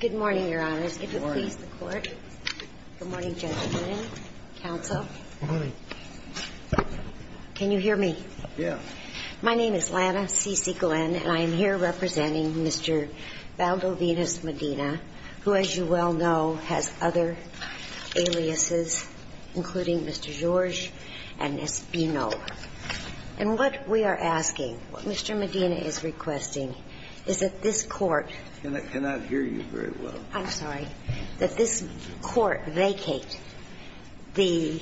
Good morning, Your Honors. Good morning. If you'll please the Court. Good morning, gentlemen. Counsel. Good morning. Can you hear me? Yeah. My name is Lana C.C. Glenn, and I am here representing Mr. Valdovinos-Medina, who, as you well know, has other aliases, including Mr. Georges and Ms. Bino. And what we are asking, what Mr. Medina is requesting, is that this Court Can I not hear you very well? I'm sorry. That this Court vacate the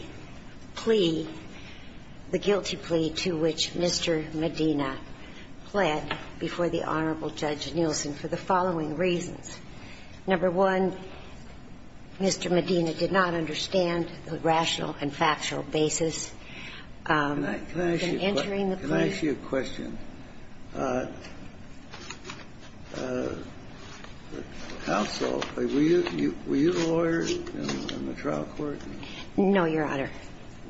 plea, the guilty plea to which Mr. Medina pled before the Honorable Judge Nielsen for the following reasons. Number one, Mr. Medina did not understand the rational and factual basis in entering the plea. Can I ask you a question? Counsel, were you the lawyer in the trial court? No, Your Honor.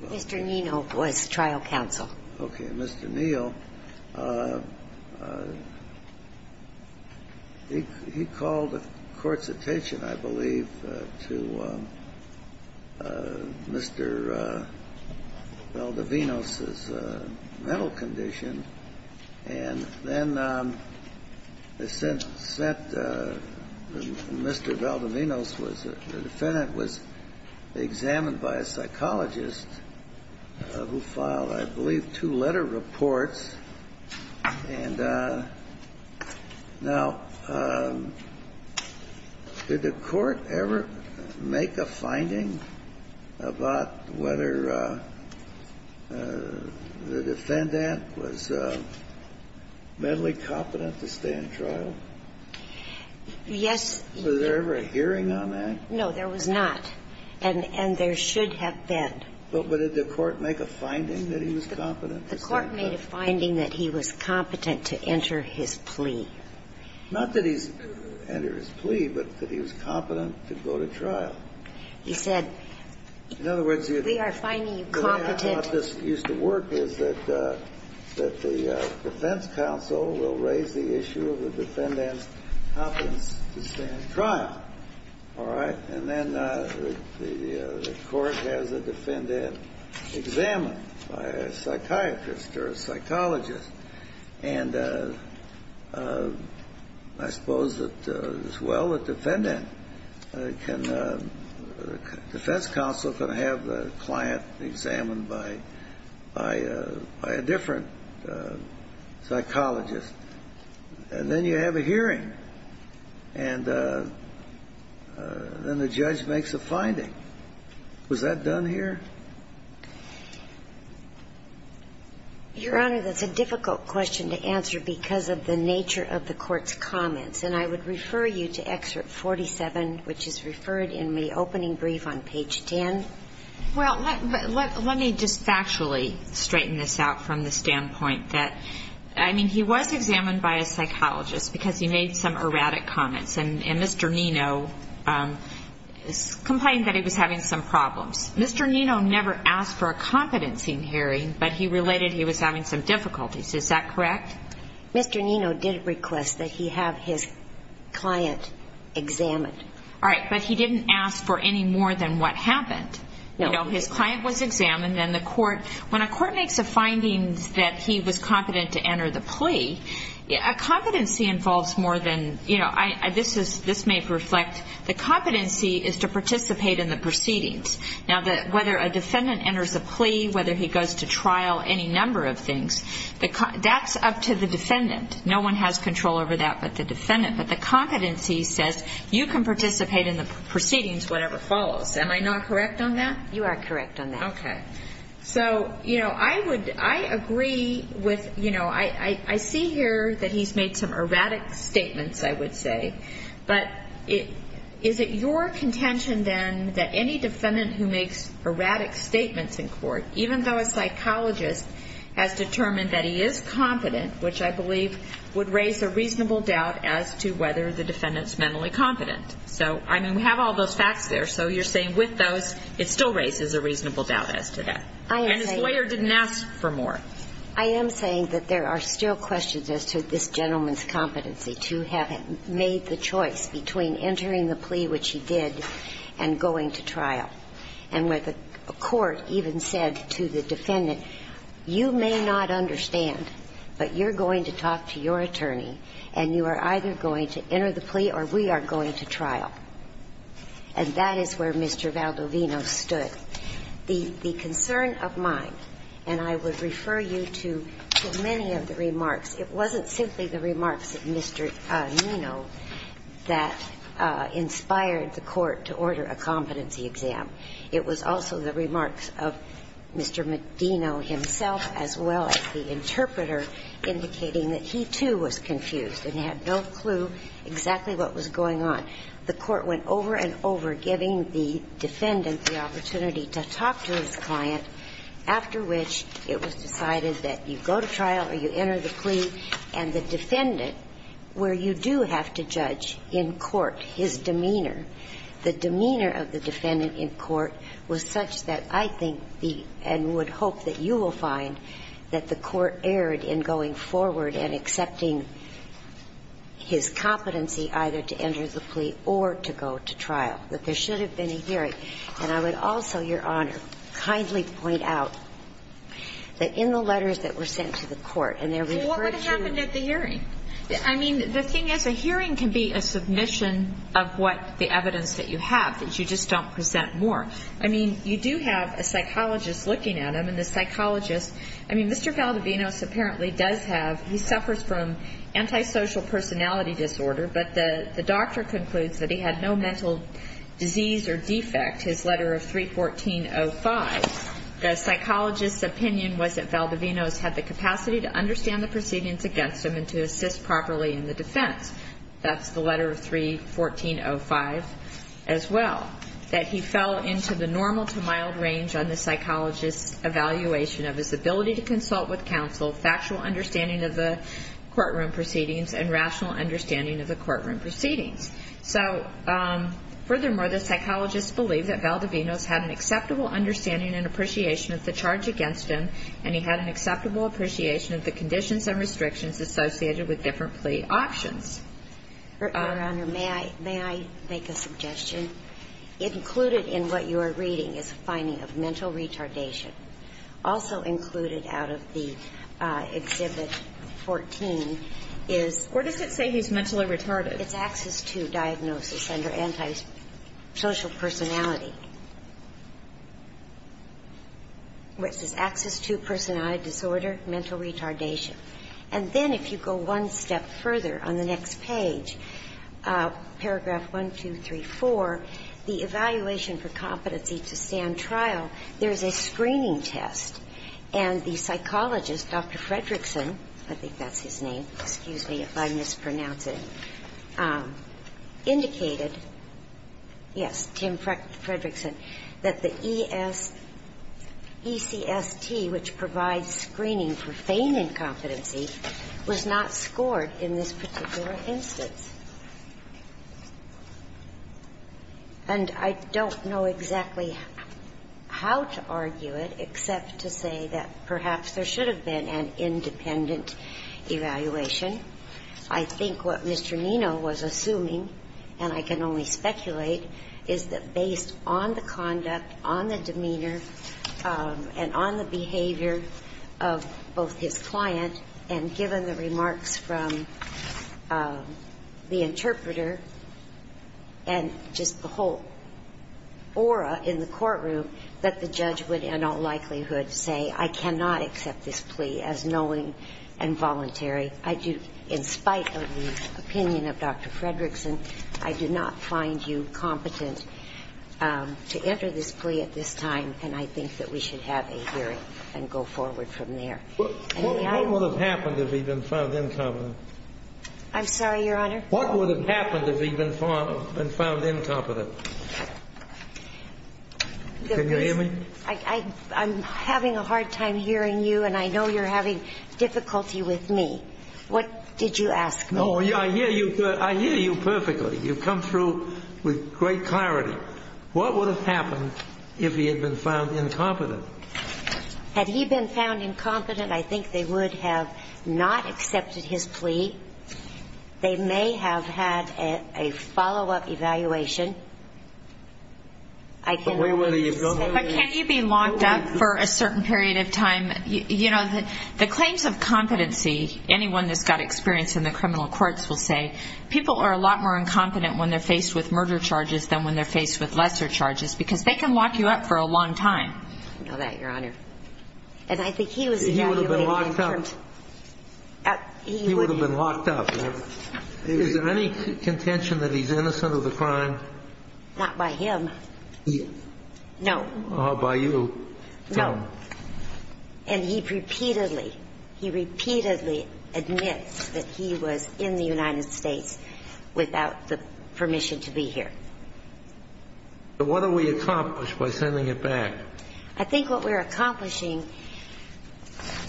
Mr. Nienhoff was trial counsel. Okay. Mr. Niel, he called the Court's attention, I believe, to Mr. Valdovinos' mental condition, and then sent Mr. Valdovinos, the defendant, was examined by a psychologist who filed, I believe, two letter reports. And now, did the Court ever make a finding about whether the defendant was mentally competent to stay in trial? Yes. Was there ever a hearing on that? No, there was not. And there should have been. But did the Court make a finding that he was competent to stay in trial? The Court made a finding that he was competent to enter his plea. Not that he's entered his plea, but that he was competent to go to trial. He said, we are finding you competent to go to trial. In other words, the way how this used to work is that the defense counsel will raise the issue of the defendant's competence to stay in trial, all right? And then the defendant examined by a psychiatrist or a psychologist. And I suppose that as well, the defendant can – the defense counsel can have the client examined by a different psychologist. And then you have a hearing. And then the judge makes a finding. Was that done here? Your Honor, that's a difficult question to answer because of the nature of the Court's comments. And I would refer you to Excerpt 47, which is referred in the opening brief on page 10. Well, let me just factually straighten this out from the standpoint that, I mean, he was examined by a psychologist because he made some erratic comments. And Mr. Nino never asked for a competency in hearing, but he related he was having some difficulties. Is that correct? Mr. Nino did request that he have his client examined. All right. But he didn't ask for any more than what happened. No. You know, his client was examined. And the Court – when a Court makes a finding that he was competent to enter the plea, a competency involves more than – you know, the competency is to participate in the proceedings. Now, whether a defendant enters a plea, whether he goes to trial, any number of things, that's up to the defendant. No one has control over that but the defendant. But the competency says you can participate in the proceedings, whatever follows. Am I not correct on that? You are correct on that. Okay. So, you know, I would – I agree with – you know, I see here that he's made some erratic statements, I would say. But it – is it your contention then that any defendant who makes erratic statements in court, even though a psychologist has determined that he is competent, which I believe would raise a reasonable doubt as to whether the defendant's mentally competent. So, I mean, we have all those facts there. So you're saying with those, it still raises a reasonable doubt as to that. I am saying – And his lawyer didn't ask for more. I am saying that there are still questions as to this gentleman's competency to have made the choice between entering the plea, which he did, and going to trial. And where the court even said to the defendant, you may not understand, but you're going to talk to your attorney and you are either going to enter the plea or we are going to trial. And that is where Mr. Valdovino stood. The concern of mine, and I would refer you to many of the remarks, it wasn't simply the remarks of Mr. Valdovino that inspired the court to order a competency exam. It was also the remarks of Mr. Medino himself, as well as the interpreter, indicating that he, too, was confused and had no clue exactly what was going on. The court went over and over, giving the defendant the opportunity to talk to his client, after which it was determined that he would go to trial or enter the plea. And the defendant, where you do have to judge in court his demeanor, the demeanor of the defendant in court was such that I think the – and would hope that you will find that the court erred in going forward and accepting his competency either to enter the plea or to go to trial. That there should have been a hearing. And I would also, Your Honor, kindly point out that in the letters that were sent to the court, and they're referred to – Well, what would have happened at the hearing? I mean, the thing is, a hearing can be a submission of what – the evidence that you have, that you just don't present more. I mean, you do have a psychologist looking at him, and the psychologist – I mean, Mr. Valdovino apparently does have – he suffers from antisocial personality disorder, but the doctor concludes that he had no mental disease or defect. His letter of 314.05, the psychologist's opinion was that Valdovino's had the capacity to understand the proceedings against him and to assist properly in the defense. That's the letter of 314.05 as well. That he fell into the normal to mild range on the psychologist's evaluation of his ability to consult with counsel, factual understanding of the courtroom proceedings, and rational understanding of the courtroom proceedings. So furthermore, the psychologist believed that Valdovino's had an acceptable understanding and appreciation of the charge against him, and he had an acceptable appreciation of the conditions and restrictions associated with different plea options. Your Honor, may I – may I make a suggestion? Included in what you are reading is a finding of mental retardation. Also included out of the Exhibit 14 is – Or does it say he's mentally retarded? It's Axis II diagnosis under antisocial personality. Where it says Axis II personality disorder, mental retardation. And then if you go one step further on the next page, paragraph 1234, the evaluation for competency to stand trial, there's a screening test. And the psychologist, Dr. Fredrickson, I think that's his name, excuse me if I mispronounce it, indicated, yes, Tim Fredrickson, that the ECST, which provides screening for feign incompetency, was not scored in this particular instance. And I don't know exactly how to argue it except to say that perhaps there should have been an independent evaluation. I think what Mr. Nino was assuming and I can only speculate, is that based on the conduct, on the demeanor, and on the interpreter, and just the whole aura in the courtroom, that the judge would in all likelihood say, I cannot accept this plea as knowing and voluntary. I do, in spite of the opinion of Dr. Fredrickson, I do not find you competent to enter this plea at this time, and I think that we should have a hearing and go forward from there. What would have happened if he'd been found incompetent? I'm sorry, Your Honor? What would have happened if he'd been found incompetent? Can you hear me? I'm having a hard time hearing you, and I know you're having difficulty with me. What did you ask me? No, I hear you perfectly. You've come through with great clarity. What would have happened if he had been found incompetent? Had he been found incompetent, I think they would have not accepted his plea. They may have had a follow-up evaluation. But can't you be locked up for a certain period of time? You know, the claims of competency, anyone that's got experience in the criminal courts will say, people are a lot more incompetent when they're faced with murder charges than when they're faced with lesser charges, because they can lock you up for a long time. I know that, Your Honor. And I think he was evaluated. He would have been locked up. Is there any contention that he's innocent of the crime? Not by him. No. Or by you? No. And he repeatedly, he repeatedly admits that he was in the United States without the permission to be here. What do we accomplish by sending him back? I think what we're accomplishing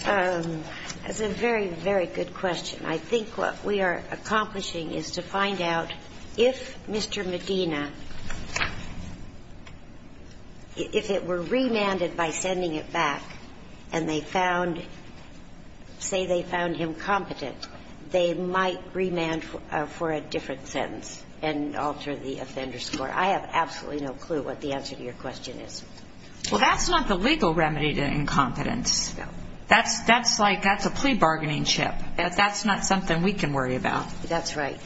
is a very, very good question. I think what we are accomplishing is to find out if Mr. Medina, if it were remanded by sending it back and they found, say they found him competent, they might remand for a different sentence and alter the offender score. I have absolutely no clue what the answer to your question is. Well, that's not the legal remedy to incompetence. That's like, that's a plea bargaining chip. That's not something we can worry about. That's right.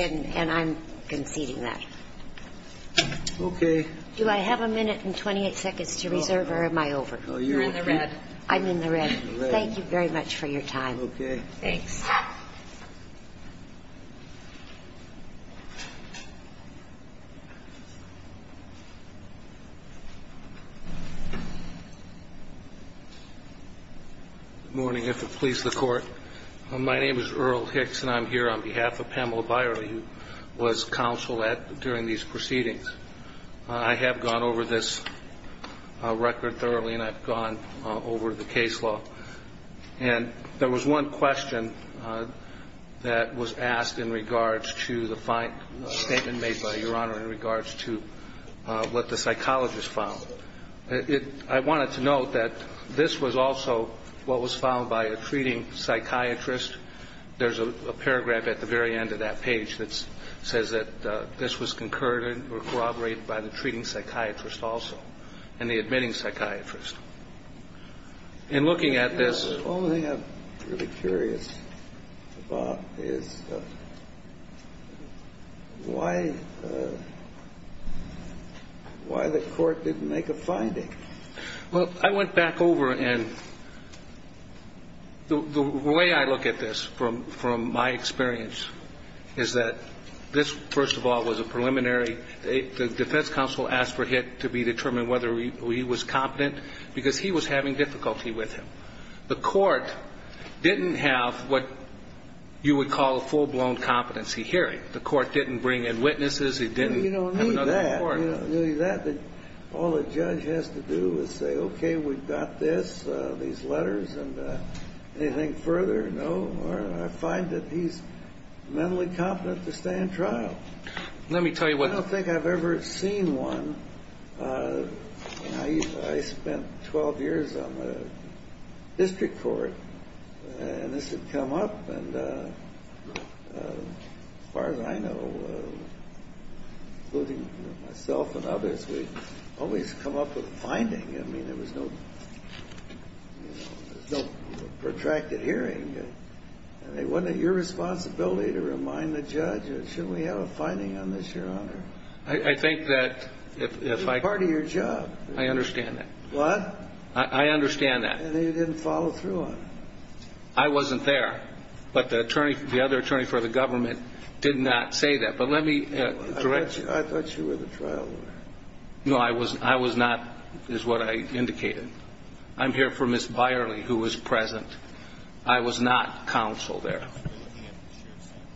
And I'm conceding that. Okay. Do I have a minute and 28 seconds to reserve or am I over? You're in the red. I'm in the red. Thank you very much for your time. Okay. Thanks. Good morning. If it pleases the court, my name is Earl Hicks and I'm here on behalf of Pamela Byerly, who was counsel at, during these proceedings. I have gone over this record thoroughly and I've gone over the case law. And there was one question that was asked in regards to the statement made by Your Honor in regards to what the psychologist found. I wanted to note that this was also what was found by a treating psychiatrist. There's a paragraph at the very end of that page that says that this was concurred or corroborated by the treating psychiatrist also and the admitting psychiatrist. And looking at this. The only thing I'm really curious about is why the court didn't make a finding? Well, I went back over and the way I look at this from my experience is that this, first of all, was a preliminary. The defense counsel asked for Hick to be determined whether he was competent because he was having difficulty with him. The court didn't have what you would call a full-blown competency hearing. The court didn't bring in witnesses. It didn't have another court. You don't need that. All the judge has to do is say, okay, we've got this, these letters, and anything further, no. I find that he's mentally incompetent to stay in trial. I don't think I've ever seen one. I spent 12 years on the district court and this had come up. And as far as I know, including myself and others, we always come up with a finding. I mean, there was no protracted hearing. And it wasn't your responsibility to remind the judge, shouldn't we have a finding on this, Your Honor? I think that if I... It's part of your job. I understand that. What? I understand that. And you didn't follow through on it. I wasn't there. But the other attorney for the government did not say that. But let me... I thought you were the trial lawyer. No, I was not, is what I indicated. I'm here for Ms. Byerly, who was present. I was not counsel there.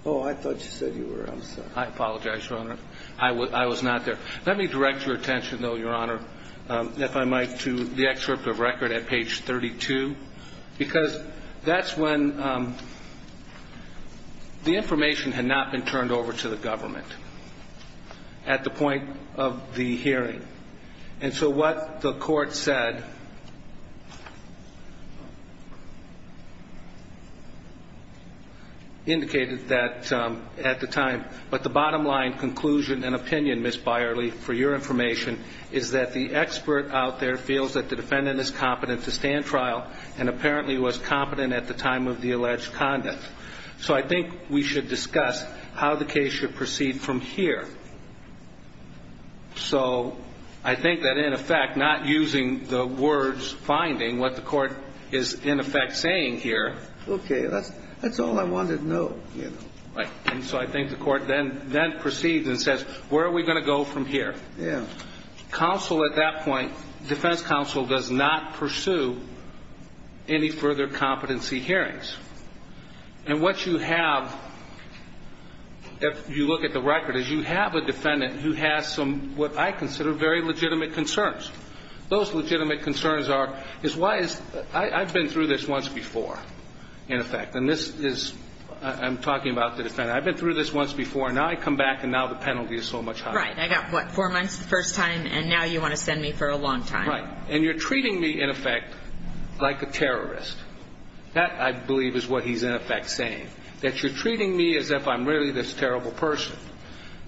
Oh, I thought you said you were. I'm sorry. I apologize, Your Honor. I was not there. Let me direct your attention, though, Your Honor, if I might, to the excerpt of record at page 32, because that's when... The information had not been turned over to the government at the point of the hearing. And so what the court said indicated that at the time... But the bottom-line conclusion and opinion, Ms. Byerly, for your information, is that the expert out there feels that the defendant is competent to stand trial and apparently was competent at the time of the alleged conduct. So I think we should discuss how the case should proceed from here. So I think that, in effect, not using the words finding, what the court is, in effect, saying here... Okay. That's all I wanted to know. Right. And so I think the court then proceeds and says, where are we going to go from here? Counsel at that point... Defense counsel does not pursue any further competency hearings. And what you have, if you look at the record, is you have a defendant who has some, what I consider, very legitimate concerns. Those legitimate concerns are... I've been through this once before, in effect. And this is... I'm talking about the defendant. I've been through this once before, and now I come back, and now the penalty is so much higher. Right. I got, what, four months the first time, and now you want to send me for a long time. Right. And you're treating me, in effect, like a terrorist. That, I believe, is what he's, in effect, saying. That you're treating me as if I'm really this terrible person.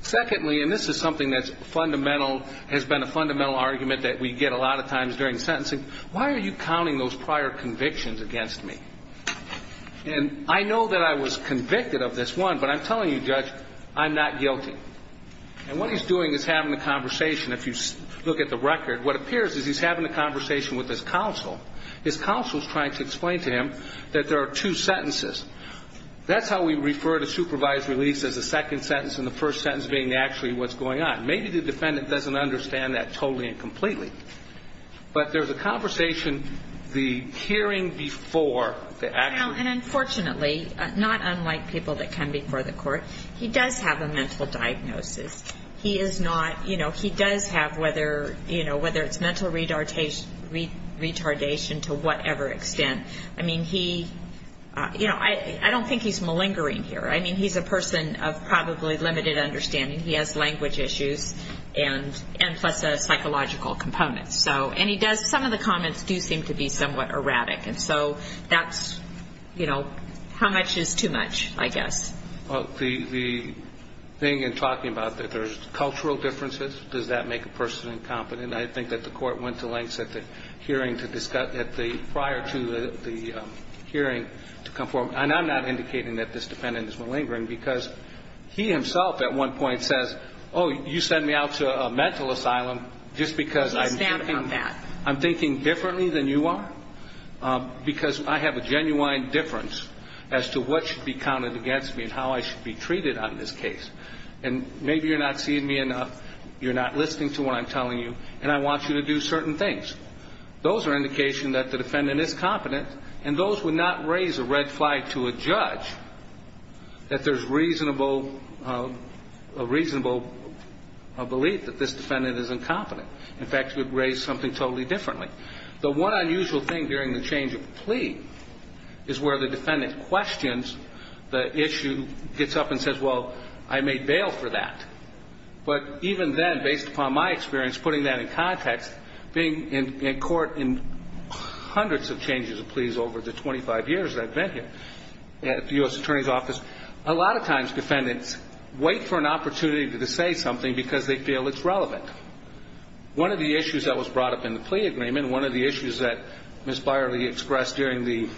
Secondly, and this is something that's fundamental, has been a fundamental argument that we get a lot of times during sentencing, why are you counting those prior convictions against me? And I know that I was convicted of this one, but I'm telling you, Judge, I'm not guilty. And what he's doing is having a conversation. If you look at the record, what appears is he's having a conversation with his counsel. His counsel's trying to explain to him that there are two sentences. That's how we refer to supervised release as a second sentence, and the first sentence being actually what's going on. Maybe the defendant doesn't understand that the actual. Well, and unfortunately, not unlike people that come before the court, he does have a mental diagnosis. He is not, you know, he does have whether, you know, whether it's mental retardation to whatever extent. I mean, he, you know, I don't think he's malingering here. I mean, he's a person of probably limited understanding. He has language issues, and plus a psychological component. So, and he does, some of the comments do seem to be somewhat erratic. And so, that's, you know, how much is too much, I guess. Well, the thing in talking about that there's cultural differences, does that make a person incompetent? I think that the court went to lengths at the hearing to discuss, at the, prior to the hearing to come forward. And I'm not indicating that this defendant is malingering, because he himself at one point says, oh, you sent me out to a mental asylum just because I'm thinking differently than you are, because I have a genuine difference as to what should be counted against me and how I should be treated on this case. And maybe you're not seeing me enough, you're not listening to what I'm telling you, and I want you to do certain things. Those are indications that the defendant is competent, and those would not raise a red flag to a judge that there's reasonable, a reasonable belief that this defendant is incompetent. In fact, it would raise something totally differently. The one unusual thing during the change of plea is where the defendant questions the issue, gets up and says, well, I made bail for that. But even then, based upon my experience, putting that in context, being in court in hundreds of changes of pleas over the 25 years that I've been here at the U.S. Attorney's Office, a lot of times defendants wait for an opportunity to say something because they feel it's relevant. One of the issues that was brought up in the plea agreement, one of the issues that Ms. Byerly expressed during the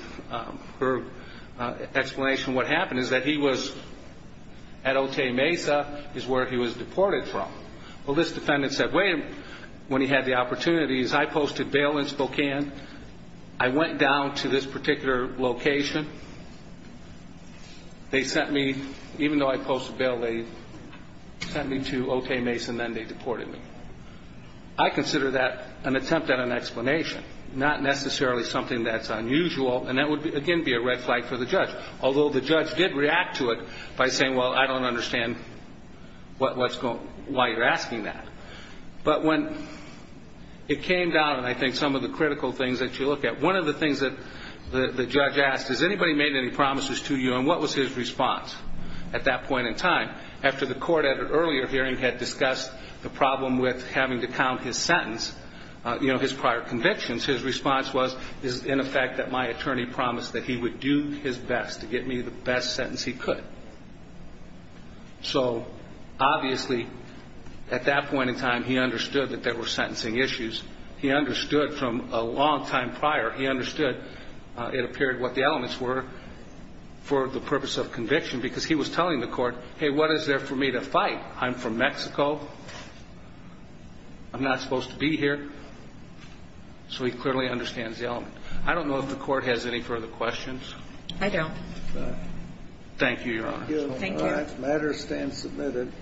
explanation of what happened is that he was at Otay Mesa is where he was deported from. Well, this defendant said, wait a minute. When he had the opportunities, I posted bail in Spokane. I went down to this particular location. They sent me, even though I posted bail, they sent me to Otay Mesa, and then they deported me. I consider that an attempt at an explanation, not necessarily something that's unusual, and that would, again, be a red flag for the judge, although the judge did react to it by saying, well, I don't understand why you're asking that. But when it came down, and I think some of the critical things that you look at, one of the things that the judge asked, has anybody made any promises to you, and what was his response at that point in time, after the court at an earlier hearing had discussed the problem with having to count his sentence, you know, his prior convictions, his response was, in effect, that my attorney promised that he would do his best to get me the best sentence he could. So, obviously, at that point in time, he understood that there were sentencing issues. He understood from a long time prior, he understood, it appeared, what the elements were for the purpose of conviction, because he was telling the court, hey, what is there for me to fight? I'm from Mexico. I'm not supposed to be here. So he clearly understands the element. I don't know if the court has any further questions. I don't. Thank you, Your Honor. Thank you. The matter stands submitted.